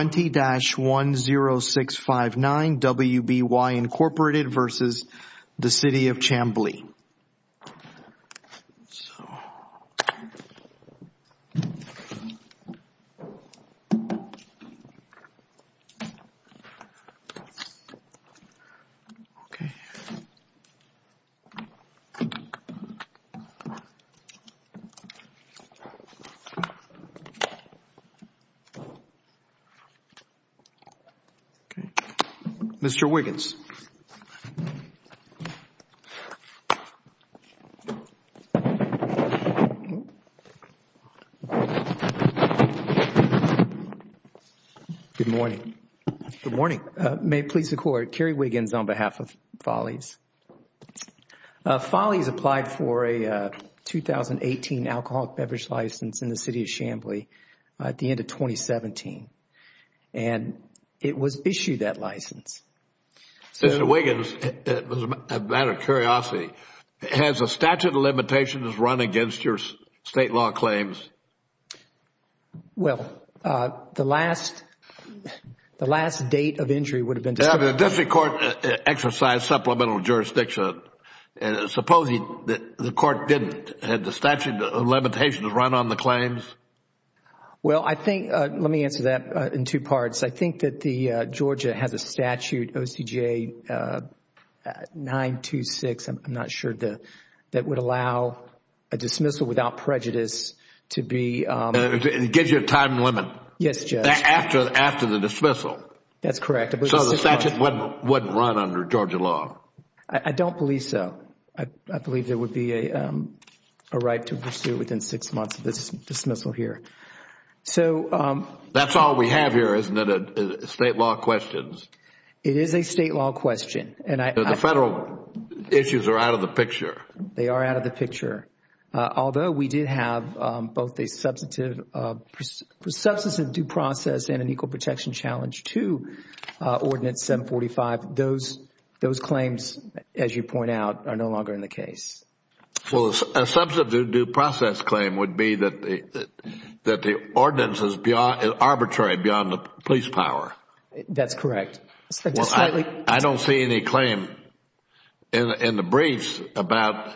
20-10659 WBY, Inc. v. City of Chamblee Okay. Mr. Wiggins. Good morning. Good morning. May it please the Court, Kerry Wiggins on behalf of Follies. Follies applied for a 2018 alcoholic beverage license in the City of Chamblee at the end of 2017. And it was issued, that license. Mr. Wiggins, out of curiosity, has the statute of limitations run against your State law claims? Well, the last date of entry would have been... The District Court exercised supplemental jurisdiction. Supposing the Court didn't, had the statute of limitations run on the claims? Well, I think... let me answer that in two parts. I think that Georgia has a statute, OCJ 926, I'm not sure, that would allow a dismissal without prejudice to be... It gives you a time limit? Yes, Judge. After the dismissal? That's correct. So the statute wouldn't run under Georgia law? I don't believe so. I believe there would be a right to pursue within six months of this dismissal here. So... That's all we have here, isn't it? State law questions. It is a State law question. The Federal issues are out of the picture. They are out of the picture. Although we did have both a substantive due process and an equal protection challenge to Ordinance 745, those claims, as you point out, are no longer in the case. Well, a substantive due process claim would be that the ordinance is arbitrary beyond the police power. That's correct. I don't see any claim in the briefs about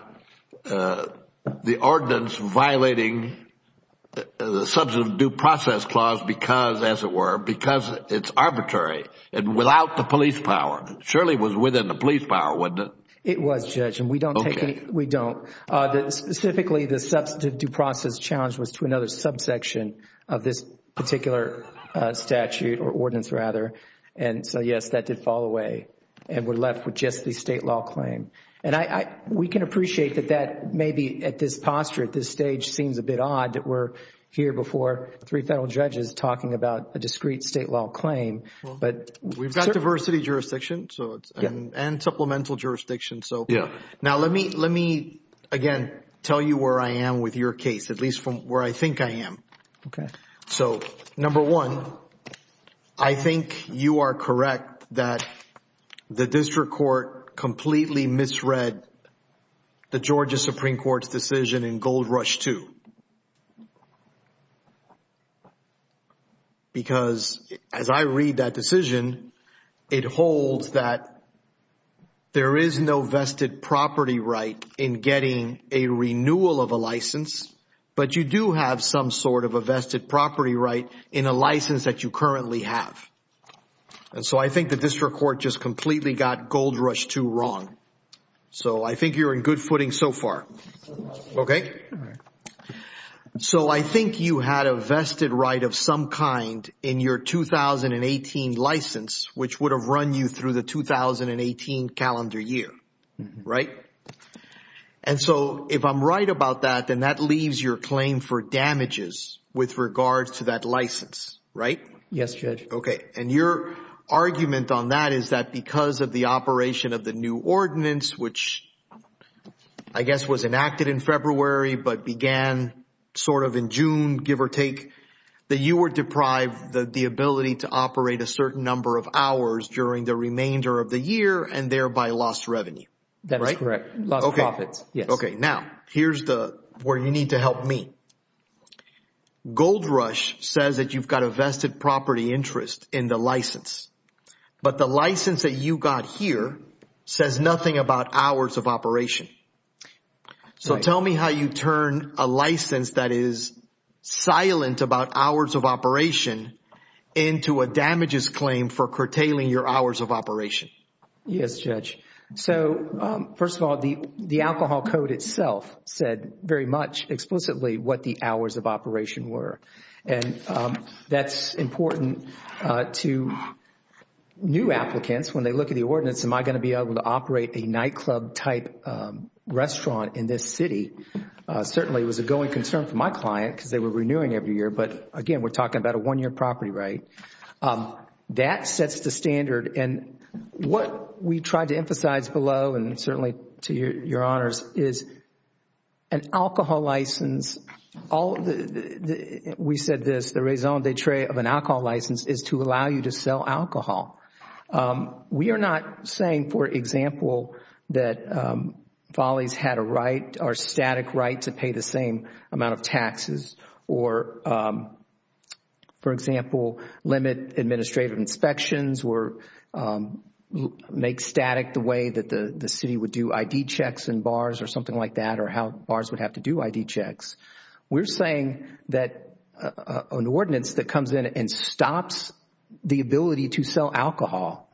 the ordinance violating the substantive due process clause because, as it were, because it's arbitrary and without the police power. Surely it was within the police power, wasn't it? It was, Judge, and we don't take any... Okay. We don't. Specifically, the substantive due process challenge was to another subsection of this particular statute or ordinance, rather. And so, yes, that did fall away, and we're left with just the State law claim. We can appreciate that maybe at this posture, at this stage, seems a bit odd that we're here before three Federal judges talking about a discrete State law claim. We've got diversity jurisdiction and supplemental jurisdiction. Now, let me, again, tell you where I am with your case, at least from where I think I am. Okay. So, number one, I think you are correct that the district court completely misread the Georgia Supreme Court's decision in Gold Rush II. Because, as I read that decision, it holds that there is no vested property right in getting a renewal of a license, but you do have some sort of a vested property right in a license that you currently have. And so I think the district court just completely got Gold Rush II wrong. So I think you're in good footing so far. Okay? All right. So I think you had a vested right of some kind in your 2018 license, which would have run you through the 2018 calendar year, right? And so if I'm right about that, then that leaves your claim for damages with regards to that license, right? Yes, Judge. Okay. And your argument on that is that because of the operation of the new ordinance, which I guess was enacted in February but began sort of in June, give or take, that you were deprived of the ability to operate a certain number of hours during the remainder of the year and thereby lost revenue. That's correct. Lost profits, yes. Okay. Now, here's where you need to help me. Gold Rush says that you've got a vested property interest in the license. But the license that you got here says nothing about hours of operation. So tell me how you turn a license that is silent about hours of operation into a damages claim for curtailing your hours of operation. Yes, Judge. So, first of all, the alcohol code itself said very much explicitly what the hours of operation were. And that's important to new applicants. When they look at the ordinance, am I going to be able to operate a nightclub-type restaurant in this city? Certainly it was a going concern for my client because they were renewing every year. But, again, we're talking about a one-year property right. That sets the standard. And what we tried to emphasize below, and certainly to your honors, is an alcohol license. We said this, the raison d'etre of an alcohol license is to allow you to sell alcohol. We are not saying, for example, that Follies had a right or static right to pay the same amount of taxes. Or, for example, limit administrative inspections or make static the way that the city would do ID checks in bars or something like that or how bars would have to do ID checks. We're saying that an ordinance that comes in and stops the ability to sell alcohol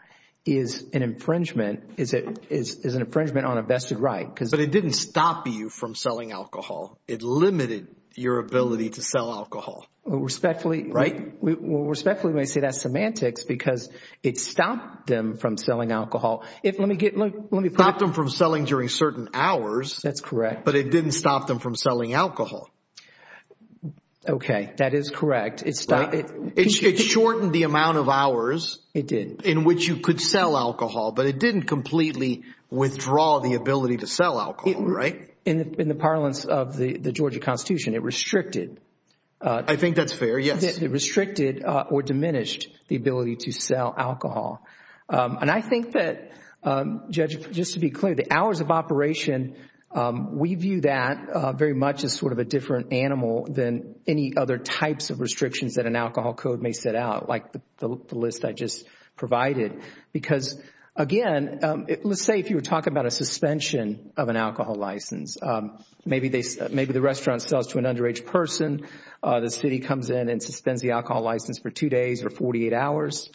is an infringement on a vested right. But it didn't stop you from selling alcohol. It limited your ability to sell alcohol. Respectfully, we may say that's semantics because it stopped them from selling alcohol. It stopped them from selling during certain hours. That's correct. But it didn't stop them from selling alcohol. Okay, that is correct. It shortened the amount of hours in which you could sell alcohol. But it didn't completely withdraw the ability to sell alcohol, right? In the parlance of the Georgia Constitution, it restricted. I think that's fair, yes. It restricted or diminished the ability to sell alcohol. And I think that, Judge, just to be clear, the hours of operation, we view that very much as sort of a different animal than any other types of restrictions that an alcohol code may set out, like the list I just provided. Because, again, let's say if you were talking about a suspension of an alcohol license. Maybe the restaurant sells to an underage person. The city comes in and suspends the alcohol license for two days or 48 hours.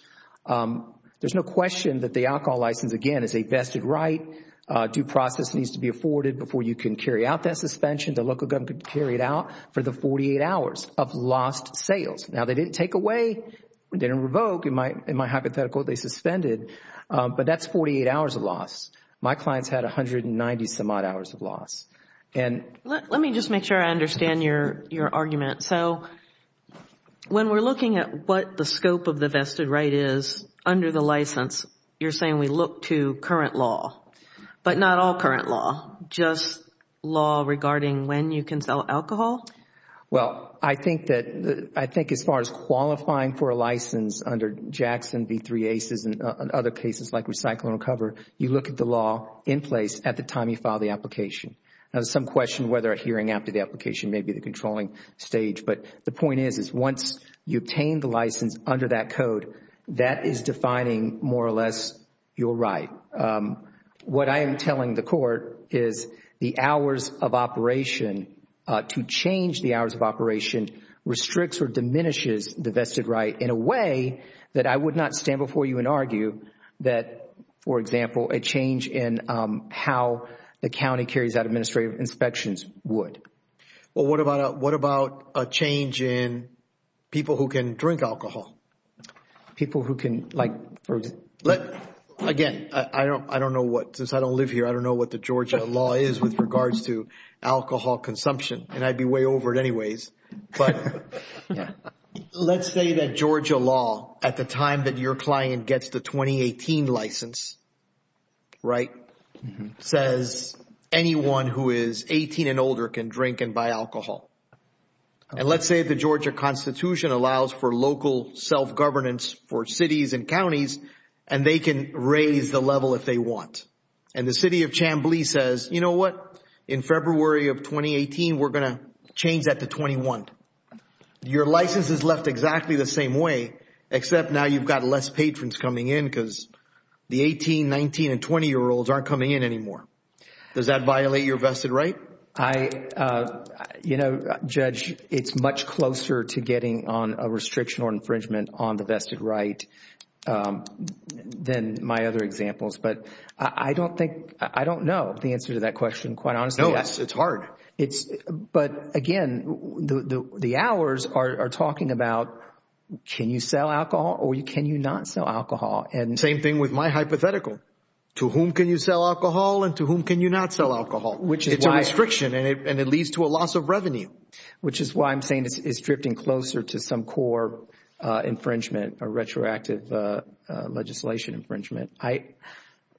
There's no question that the alcohol license, again, is a vested right. Due process needs to be afforded before you can carry out that suspension. The local government could carry it out for the 48 hours of lost sales. Now, they didn't take away, they didn't revoke. In my hypothetical, they suspended. But that's 48 hours of loss. My clients had 190 some odd hours of loss. Let me just make sure I understand your argument. So when we're looking at what the scope of the vested right is under the license, you're saying we look to current law. But not all current law, just law regarding when you can sell alcohol? Well, I think as far as qualifying for a license under Jackson v. 3 ACES and other cases like Recycle and Recover, you look at the law in place at the time you file the application. Now, there's some question whether a hearing after the application may be the controlling stage. But the point is, is once you obtain the license under that code, that is defining more or less your right. What I am telling the court is the hours of operation, to change the hours of operation, restricts or diminishes the vested right in a way that I would not stand before you and argue that, for example, a change in how the county carries out administrative inspections would. Well, what about a change in people who can drink alcohol? People who can, like, for example. Again, I don't know what, since I don't live here, I don't know what the Georgia law is with regards to alcohol consumption. And I'd be way over it anyways. But let's say that Georgia law at the time that your client gets the 2018 license, right, says anyone who is 18 and older can drink and buy alcohol. And let's say the Georgia Constitution allows for local self-governance for cities and counties, and they can raise the level if they want. And the city of Chambly says, you know what, in February of 2018, we're going to change that to 21. Your license is left exactly the same way, except now you've got less patrons coming in because the 18, 19, and 20-year-olds aren't coming in anymore. Does that violate your vested right? I, you know, Judge, it's much closer to getting on a restriction or infringement on the vested right than my other examples. But I don't think – I don't know the answer to that question, quite honestly. No, it's hard. But, again, the hours are talking about can you sell alcohol or can you not sell alcohol. Same thing with my hypothetical. To whom can you sell alcohol and to whom can you not sell alcohol? It's a restriction, and it leads to a loss of revenue. Which is why I'm saying it's drifting closer to some core infringement or retroactive legislation infringement.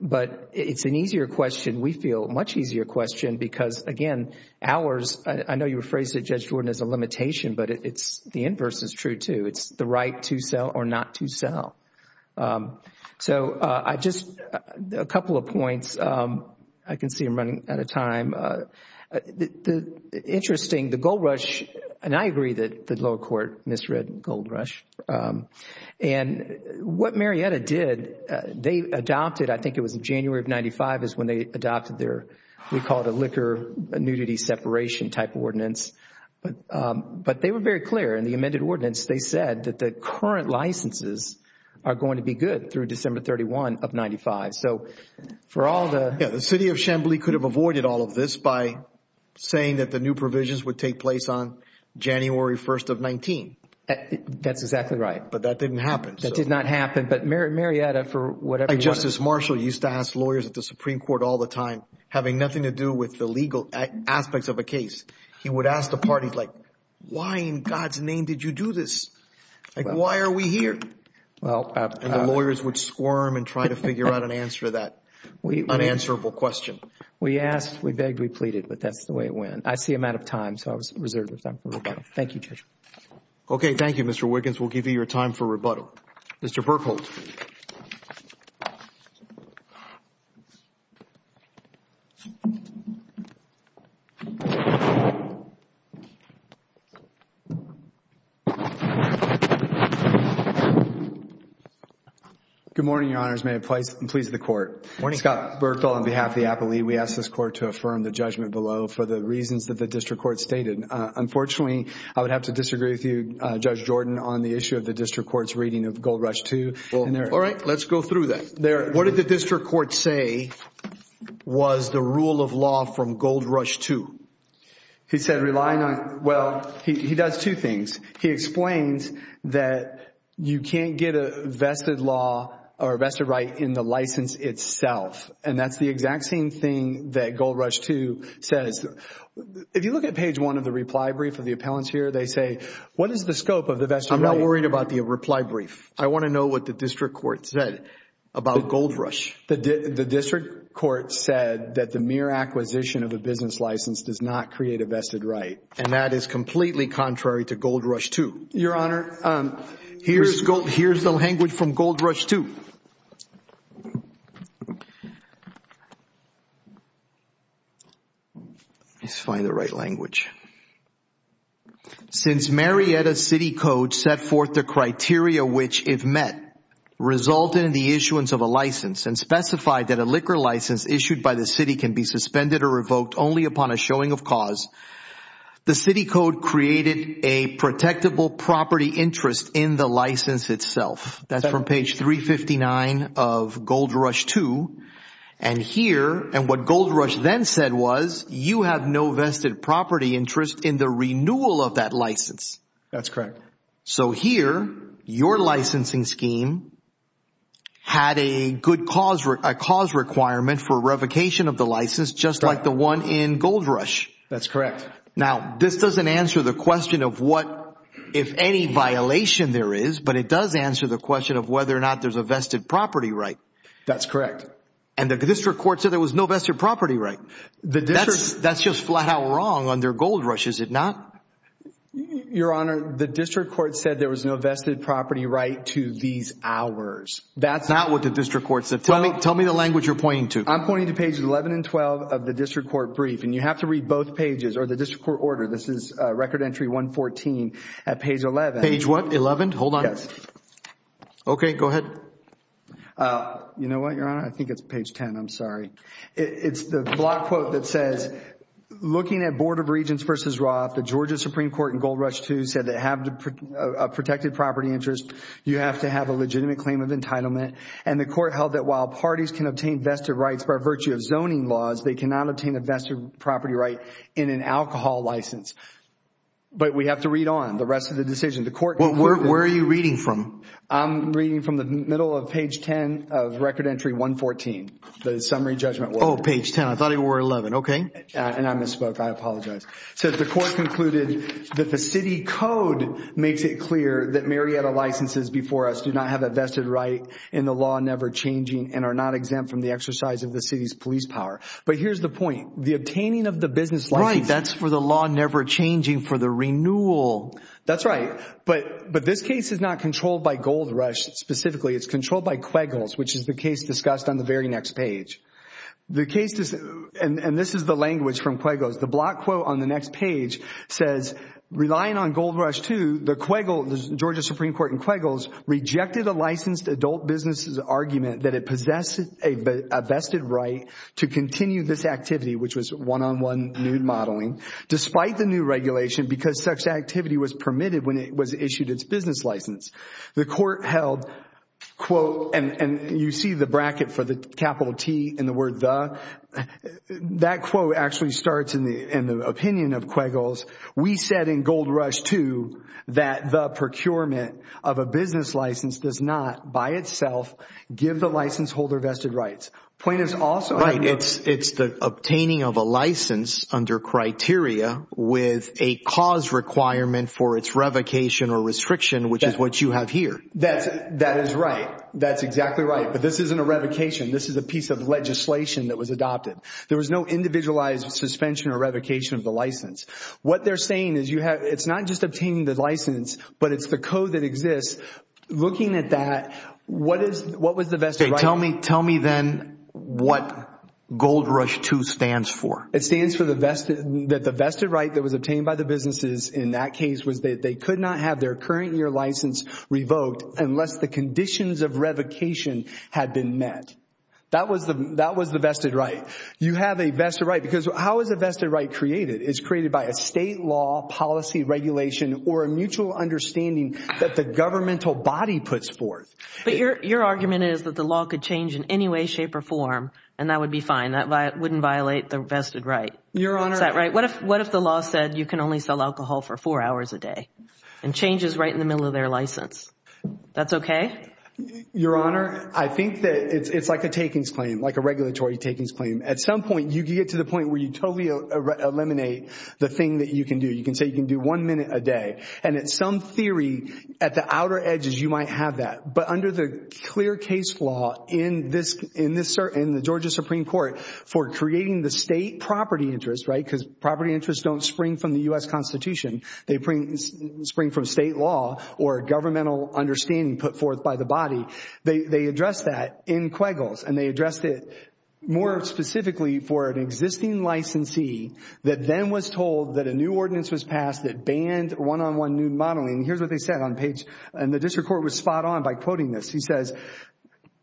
But it's an easier question, we feel, much easier question because, again, hours – I know you rephrased it, Judge Jordan, as a limitation, but the inverse is true too. It's the right to sell or not to sell. So I just – a couple of points. I can see I'm running out of time. Interesting, the Gold Rush – and I agree that the lower court misread Gold Rush. And what Marietta did, they adopted – I think it was in January of 1995 is when they adopted their – we call it a liquor nudity separation type ordinance. But they were very clear in the amended ordinance. They said that the current licenses are going to be good through December 31 of 1995. So for all the – Yeah, the city of Chamblee could have avoided all of this by saying that the new provisions would take place on January 1 of 19. That's exactly right. But that didn't happen. That did not happen. But Marietta, for whatever – Justice Marshall used to ask lawyers at the Supreme Court all the time, having nothing to do with the legal aspects of a case. He would ask the parties, like, why in God's name did you do this? Like, why are we here? And the lawyers would squirm and try to figure out an answer to that unanswerable question. We asked. We begged. We pleaded. But that's the way it went. I see I'm out of time. So I was reserved with time for rebuttal. Thank you, Judge. Okay. Thank you, Mr. Wiggins. We'll give you your time for rebuttal. Mr. Berkholdt. Good morning, Your Honors. May it please the Court. Morning. Scott Berkholdt on behalf of the Appellee. We ask this Court to affirm the judgment below for the reasons that the District Court stated. Unfortunately, I would have to disagree with you, Judge Jordan, on the issue of the District Court's reading of Gold Rush II. All right. Let's go through that. What did the District Court say was the rule of law from Gold Rush II? He said relying on – well, he does two things. He explains that you can't get a vested law or a vested right in the license itself. And that's the exact same thing that Gold Rush II says. If you look at page one of the reply brief of the appellants here, they say, what is the scope of the vested right? I'm not worried about the reply brief. I want to know what the District Court said about Gold Rush. The District Court said that the mere acquisition of a business license does not create a vested right. And that is completely contrary to Gold Rush II. Your Honor, here's the language from Gold Rush II. Let's find the right language. Since Marietta City Code set forth the criteria which, if met, resulted in the issuance of a license and specified that a liquor license issued by the city can be suspended or revoked only upon a showing of cause, the City Code created a protectable property interest in the license itself. That's from page 359 of Gold Rush II. And here, and what Gold Rush then said was, you have no vested property interest in the renewal of that license. That's correct. So here, your licensing scheme had a good cause requirement for revocation of the license just like the one in Gold Rush. That's correct. Now, this doesn't answer the question of what, if any, violation there is, but it does answer the question of whether or not there's a vested property right. That's correct. And the district court said there was no vested property right. That's just flat out wrong under Gold Rush, is it not? Your Honor, the district court said there was no vested property right to these hours. That's not what the district court said. Tell me the language you're pointing to. I'm pointing to pages 11 and 12 of the district court brief. And you have to read both pages or the district court order. This is Record Entry 114 at page 11. Page what, 11? Hold on. Yes. Okay, go ahead. You know what, Your Honor? I think it's page 10. I'm sorry. It's the block quote that says, Looking at Board of Regents v. Roth, the Georgia Supreme Court in Gold Rush II said that to have a protected property interest, you have to have a legitimate claim of entitlement. And the court held that while parties can obtain vested rights by virtue of zoning laws, they cannot obtain a vested property right in an alcohol license. But we have to read on the rest of the decision. Where are you reading from? I'm reading from the middle of page 10 of Record Entry 114, the summary judgment. Oh, page 10. I thought it were 11. Okay. And I misspoke. I apologize. So the court concluded that the city code makes it clear that Marietta licenses before us do not have a vested right in the law never changing and are not exempt from the exercise of the city's police power. But here's the point. The obtaining of the business license. Right. That's for the law never changing for the renewal. That's right. But this case is not controlled by Gold Rush specifically. It's controlled by Quiggles, which is the case discussed on the very next page. And this is the language from Quiggles. The block quote on the next page says, Relying on Gold Rush II, the Georgia Supreme Court in Quiggles rejected a licensed adult business' argument that it possessed a vested right to continue this activity, which was one-on-one nude modeling, despite the new regulation because such activity was permitted when it was issued its business license. The court held, quote, and you see the bracket for the capital T in the word the. That quote actually starts in the opinion of Quiggles. We said in Gold Rush II that the procurement of a business license does not by itself give the license holder vested rights. Right. It's the obtaining of a license under criteria with a cause requirement for its revocation or restriction, which is what you have here. That is right. That's exactly right. But this isn't a revocation. This is a piece of legislation that was adopted. There was no individualized suspension or revocation of the license. What they're saying is it's not just obtaining the license, but it's the code that exists. Looking at that, what was the vested right? Tell me then what Gold Rush II stands for. It stands for that the vested right that was obtained by the businesses in that case was that they could not have their current year license revoked unless the conditions of revocation had been met. That was the vested right. You have a vested right because how is a vested right created? It's created by a state law, policy, regulation, or a mutual understanding that the governmental body puts forth. But your argument is that the law could change in any way, shape, or form, and that would be fine. That wouldn't violate the vested right. Your Honor— Is that right? What if the law said you can only sell alcohol for four hours a day and change is right in the middle of their license? That's okay? Your Honor, I think that it's like a takings claim, like a regulatory takings claim. At some point, you get to the point where you totally eliminate the thing that you can do. You can say you can do one minute a day. And in some theory, at the outer edges, you might have that. But under the clear case law in the Georgia Supreme Court for creating the state property interest, right, because property interests don't spring from the U.S. Constitution. They spring from state law or governmental understanding put forth by the body. They addressed that in Quiggles, and they addressed it more specifically for an existing licensee that then was told that a new ordinance was passed that banned one-on-one nude modeling. And here's what they said on page—and the district court was spot on by quoting this. He says,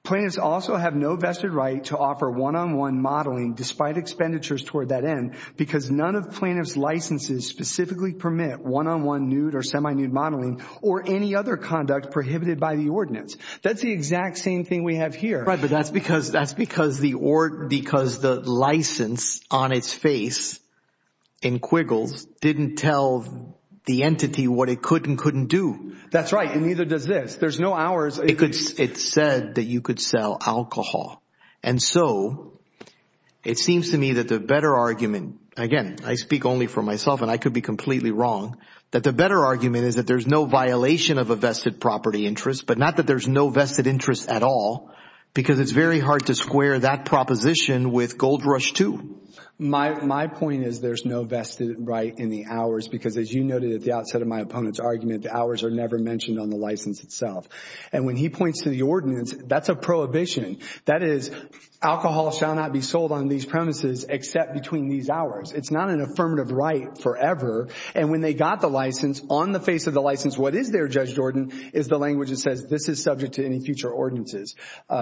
Plaintiffs also have no vested right to offer one-on-one modeling despite expenditures toward that end because none of plaintiff's licenses specifically permit one-on-one nude or semi-nude modeling or any other conduct prohibited by the ordinance. That's the exact same thing we have here. Right, but that's because the license on its face in Quiggles didn't tell the entity what it could and couldn't do. That's right, and neither does this. There's no hours. It said that you could sell alcohol. And so it seems to me that the better argument—again, I speak only for myself and I could be completely wrong—that the better argument is that there's no violation of a vested property interest but not that there's no vested interest at all because it's very hard to square that proposition with Gold Rush II. My point is there's no vested right in the hours because, as you noted at the outset of my opponent's argument, the hours are never mentioned on the license itself. And when he points to the ordinance, that's a prohibition. That is, alcohol shall not be sold on these premises except between these hours. It's not an affirmative right forever. And when they got the license, on the face of the license, what is there, Judge Jordan, is the language that says this is subject to any future ordinances.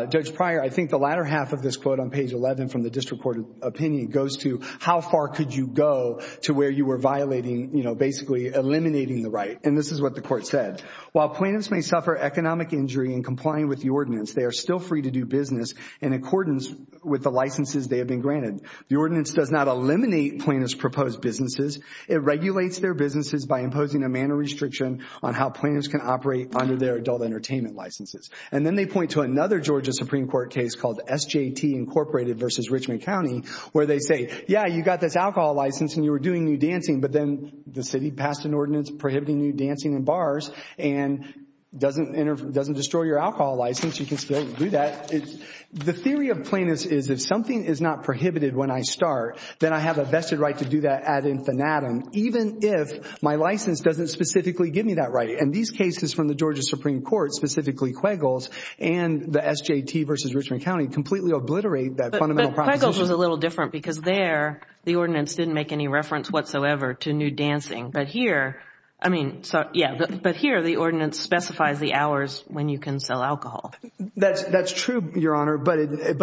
Judge Pryor, I think the latter half of this quote on page 11 from the district court opinion goes to how far could you go to where you were violating—basically eliminating the right. And this is what the court said. While plaintiffs may suffer economic injury in complying with the ordinance, they are still free to do business in accordance with the licenses they have been granted. The ordinance does not eliminate plaintiffs' proposed businesses. It regulates their businesses by imposing a manner restriction on how plaintiffs can operate under their adult entertainment licenses. And then they point to another Georgia Supreme Court case called SJT, Incorporated v. Richmond County, where they say, yeah, you got this alcohol license and you were doing new dancing. But then the city passed an ordinance prohibiting new dancing in bars and doesn't destroy your alcohol license. You can still do that. The theory of plaintiffs is if something is not prohibited when I start, then I have a vested right to do that ad infinitum, even if my license doesn't specifically give me that right. And these cases from the Georgia Supreme Court, specifically Quagle's and the SJT v. Richmond County, completely obliterate that fundamental proposition. But Quagle's was a little different because there the ordinance didn't make any reference whatsoever to new dancing. But here—I mean, yeah, but here the ordinance specifies the hours when you can sell alcohol. That's true, Your Honor, but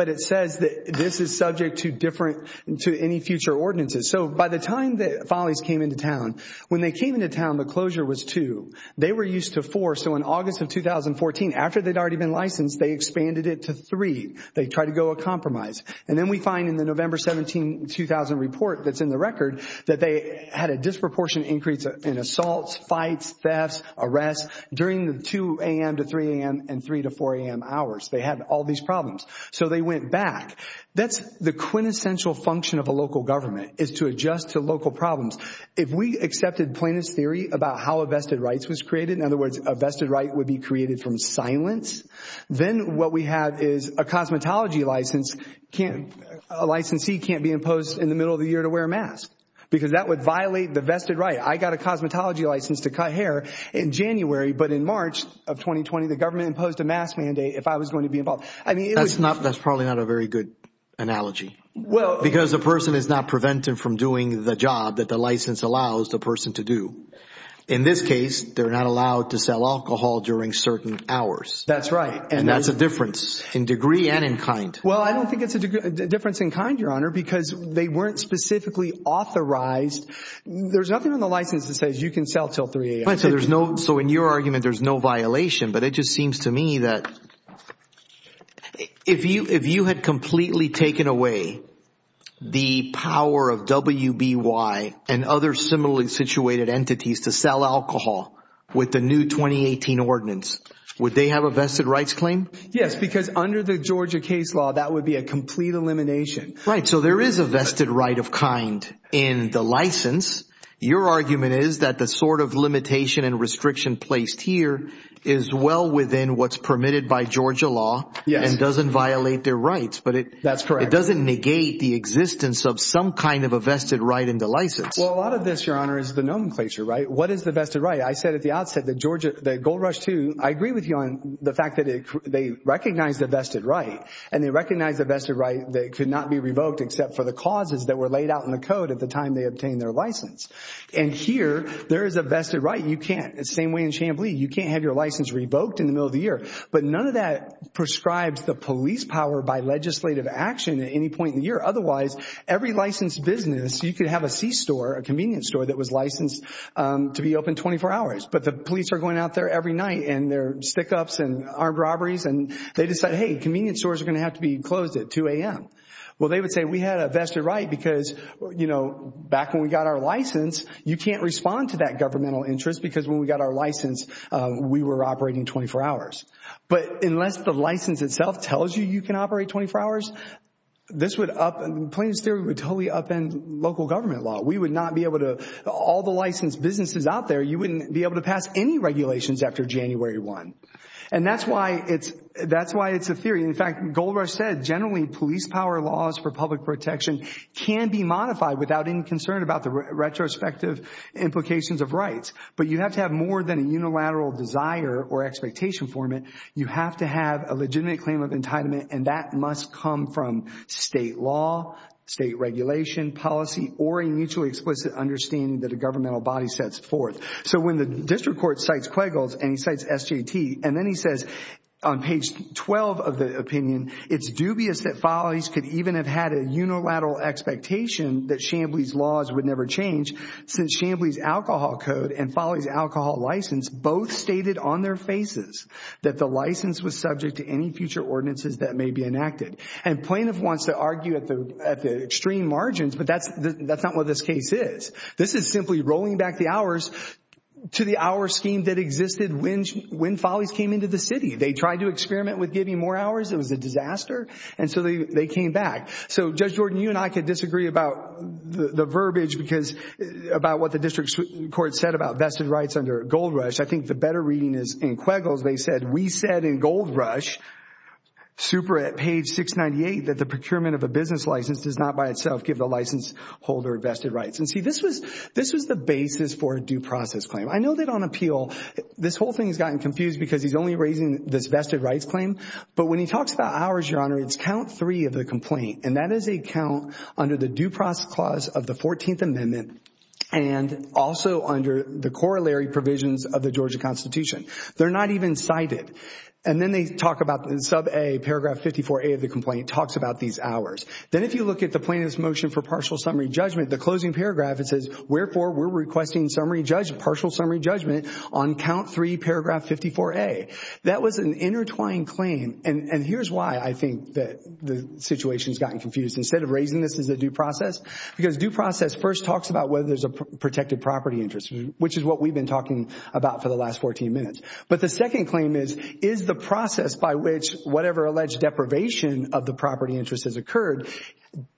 it says that this is subject to different—to any future ordinances. So by the time the Follies came into town, when they came into town, the closure was two. They were used to four. So in August of 2014, after they'd already been licensed, they expanded it to three. They tried to go a compromise. And then we find in the November 17, 2000 report that's in the record that they had a disproportionate increase in assaults, fights, thefts, arrests during the 2 a.m. to 3 a.m. and 3 to 4 a.m. hours. They had all these problems. So they went back. That's the quintessential function of a local government is to adjust to local problems. If we accepted plaintiff's theory about how a vested right was created, in other words, a vested right would be created from silence, then what we have is a cosmetology license can't—a licensee can't be imposed in the middle of the year to wear a mask because that would violate the vested right. I got a cosmetology license to cut hair in January. But in March of 2020, the government imposed a mask mandate if I was going to be involved. That's probably not a very good analogy because the person is not prevented from doing the job that the license allows the person to do. In this case, they're not allowed to sell alcohol during certain hours. That's right. And that's a difference in degree and in kind. Well, I don't think it's a difference in kind, Your Honor, because they weren't specifically authorized. There's nothing on the license that says you can sell until 3 a.m. So in your argument, there's no violation, but it just seems to me that if you had completely taken away the power of WBY and other similarly situated entities to sell alcohol with the new 2018 ordinance, would they have a vested rights claim? Yes, because under the Georgia case law, that would be a complete elimination. Right. So there is a vested right of kind in the license. Your argument is that the sort of limitation and restriction placed here is well within what's permitted by Georgia law and doesn't violate their rights. But that's correct. It doesn't negate the existence of some kind of a vested right in the license. Well, a lot of this, Your Honor, is the nomenclature, right? What is the vested right? I said at the outset that Gold Rush II, I agree with you on the fact that they recognize the vested right, and they recognize the vested right that could not be revoked except for the causes that were laid out in the code at the time they obtained their license. And here, there is a vested right. You can't. It's the same way in Chamblee. You can't have your license revoked in the middle of the year. But none of that prescribes the police power by legislative action at any point in the year. Otherwise, every licensed business, you could have a C store, a convenience store, that was licensed to be open 24 hours. But the police are going out there every night, and there are stick-ups and armed robberies, and they decide, hey, convenience stores are going to have to be closed at 2 a.m. Well, they would say we had a vested right because, you know, back when we got our license, you can't respond to that governmental interest because when we got our license, we were operating 24 hours. But unless the license itself tells you you can operate 24 hours, this would up – Plains theory would totally upend local government law. We would not be able to – all the licensed businesses out there, you wouldn't be able to pass any regulations after January 1. And that's why it's a theory. In fact, Goldrush said generally police power laws for public protection can be modified without any concern about the retrospective implications of rights. But you have to have more than a unilateral desire or expectation for it. You have to have a legitimate claim of entitlement, and that must come from state law, state regulation, policy, or a mutually explicit understanding that a governmental body sets forth. So when the district court cites Quigles and he cites SJT, and then he says on page 12 of the opinion, it's dubious that Follies could even have had a unilateral expectation that Chamblee's laws would never change since Chamblee's alcohol code and Follies' alcohol license both stated on their faces that the license was subject to any future ordinances that may be enacted. And plaintiff wants to argue at the extreme margins, but that's not what this case is. This is simply rolling back the hours to the hour scheme that existed when Follies came into the city. They tried to experiment with giving more hours. It was a disaster, and so they came back. So, Judge Jordan, you and I could disagree about the verbiage about what the district court said about vested rights under Goldrush. I think the better reading is in Quiggles they said, we said in Goldrush, super at page 698, that the procurement of a business license does not by itself give the license holder vested rights. And see, this was the basis for a due process claim. I know that on appeal, this whole thing has gotten confused because he's only raising this vested rights claim. But when he talks about hours, Your Honor, it's count three of the complaint, and that is a count under the due process clause of the 14th Amendment and also under the corollary provisions of the Georgia Constitution. They're not even cited. And then they talk about in sub A, paragraph 54A of the complaint talks about these hours. Then if you look at the plaintiff's motion for partial summary judgment, the closing paragraph, it says, wherefore, we're requesting partial summary judgment on count three, paragraph 54A. That was an intertwined claim, and here's why I think the situation has gotten confused. Instead of raising this as a due process, because due process first talks about whether there's a protected property interest, which is what we've been talking about for the last 14 minutes. But the second claim is, is the process by which whatever alleged deprivation of the property interest has occurred,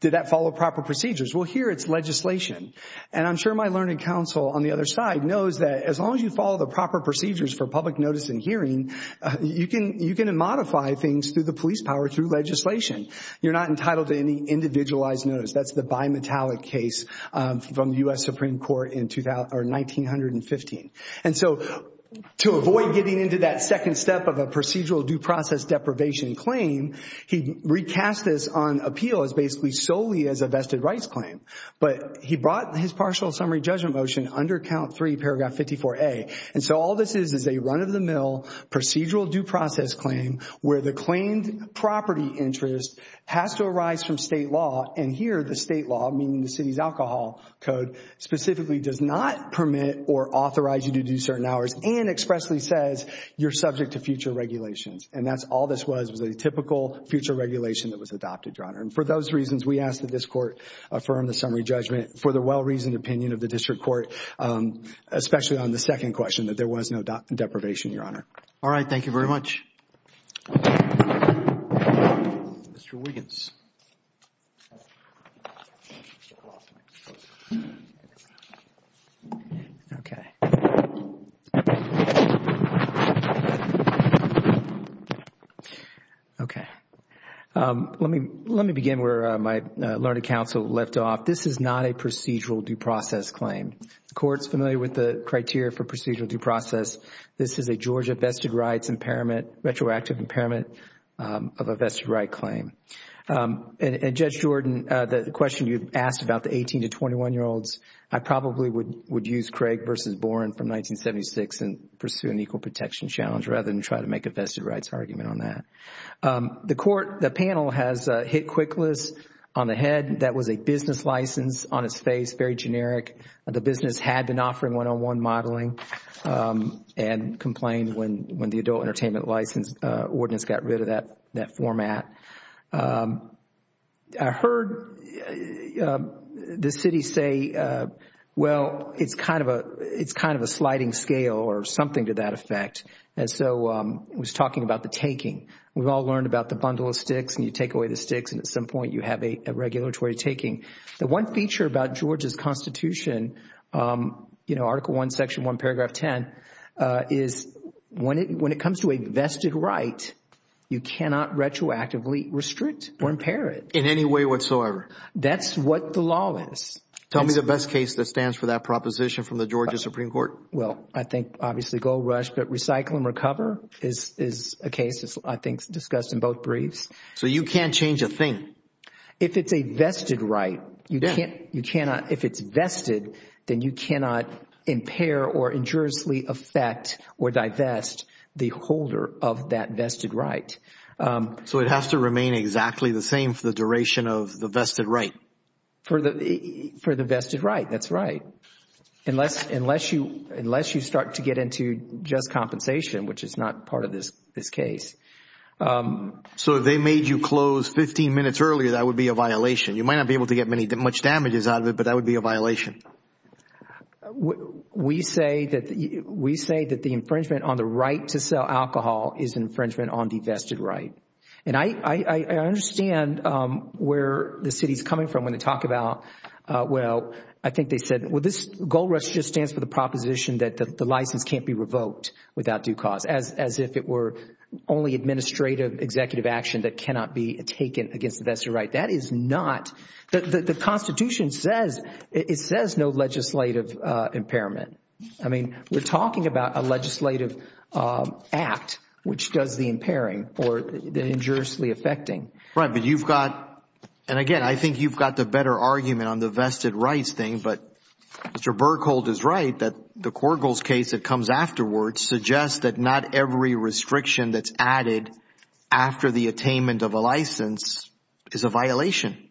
did that follow proper procedures? Well, here it's legislation. And I'm sure my learned counsel on the other side knows that as long as you follow the proper procedures for public notice and hearing, you can modify things through the police power through legislation. You're not entitled to any individualized notice. That's the bimetallic case from the U.S. Supreme Court in 1915. And so to avoid getting into that second step of a procedural due process deprivation claim, he recast this on appeal as basically solely as a vested rights claim. But he brought his partial summary judgment motion under count three, paragraph 54A. And so all this is is a run-of-the-mill procedural due process claim where the claimed property interest has to arise from state law. And here the state law, meaning the city's alcohol code, specifically does not permit or authorize you to do certain hours and expressly says you're subject to future regulations. And that's all this was, was a typical future regulation that was adopted, Your Honor. And for those reasons, we ask that this court affirm the summary judgment for the well-reasoned opinion of the district court, especially on the second question, that there was no deprivation, Your Honor. All right. Thank you very much. Mr. Wiggins. Okay. Okay. Let me, let me begin where my learned counsel left off. This is not a procedural due process claim. The Court is familiar with the criteria for procedural due process. This is a Georgia vested rights impairment, retroactive impairment of a vested right claim. And Judge Jordan, the question you've asked about the 18 to 21-year-olds, I probably would use Craig versus Boren from 1976 and pursue an equal protection challenge rather than try to make a vested rights argument on that. The Court, the panel has hit quick list on the head. That was a business license on its face, very generic. The business had been offering one-on-one modeling and complained when the adult entertainment license ordinance got rid of that format. I heard the city say, well, it's kind of a sliding scale or something to that effect. And so I was talking about the taking. We've all learned about the bundle of sticks and you take away the sticks and at some point you have a regulatory taking. The one feature about Georgia's Constitution, you know, Article 1, Section 1, Paragraph 10, is when it comes to a vested right, you cannot retroactively restrict or impair it. In any way whatsoever. That's what the law is. Tell me the best case that stands for that proposition from the Georgia Supreme Court. Well, I think obviously Gold Rush, but Recycle and Recover is a case I think discussed in both briefs. So you can't change a thing. If it's a vested right, you cannot, if it's vested, then you cannot impair or injuriously affect or divest the holder of that vested right. So it has to remain exactly the same for the duration of the vested right? For the vested right, that's right. Unless you start to get into just compensation, which is not part of this case. So if they made you close 15 minutes earlier, that would be a violation. You might not be able to get much damages out of it, but that would be a violation. We say that the infringement on the right to sell alcohol is infringement on the vested right. And I understand where the city is coming from when they talk about, well, I think they said, well, this Gold Rush just stands for the proposition that the license can't be revoked without due cause, as if it were only administrative executive action that cannot be taken against the vested right. That is not, the Constitution says, it says no legislative impairment. I mean, we're talking about a legislative act which does the impairing or injuriously affecting. Right, but you've got, and again, I think you've got the better argument on the vested rights thing. But Mr. Berkhold is right that the Korgels case that comes afterwards suggests that not every restriction that's added after the attainment of a license is a violation.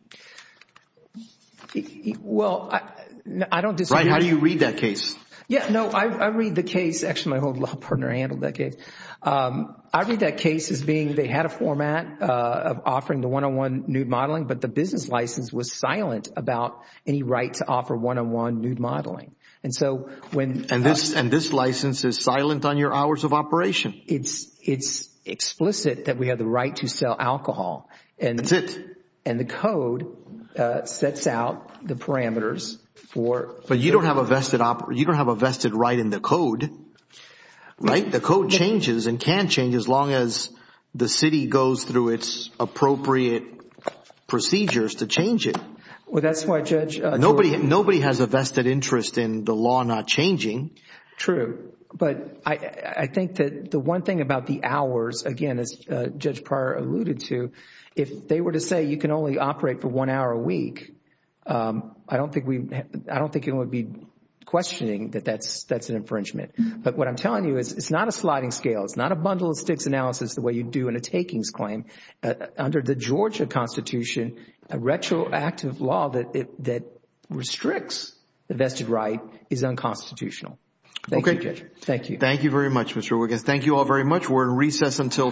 Well, I don't disagree. How do you read that case? Yeah, no, I read the case. Actually, my old law partner handled that case. I read that case as being they had a format of offering the one-on-one nude modeling, but the business license was silent about any right to offer one-on-one nude modeling. And this license is silent on your hours of operation? It's explicit that we have the right to sell alcohol. That's it. And the code sets out the parameters for- But you don't have a vested right in the code, right? The code changes and can change as long as the city goes through its appropriate procedures to change it. Well, that's why Judge- Nobody has a vested interest in the law not changing. True. But I think that the one thing about the hours, again, as Judge Pryor alluded to, if they were to say you can only operate for one hour a week, I don't think it would be questioning that that's an infringement. But what I'm telling you is it's not a sliding scale. It's not a bundle of sticks analysis the way you do in a takings claim. Under the Georgia Constitution, a retroactive law that restricts the vested right is unconstitutional. Thank you, Judge. Thank you. Thank you very much, Mr. Wiggins. Thank you all very much. We're in recess until tomorrow.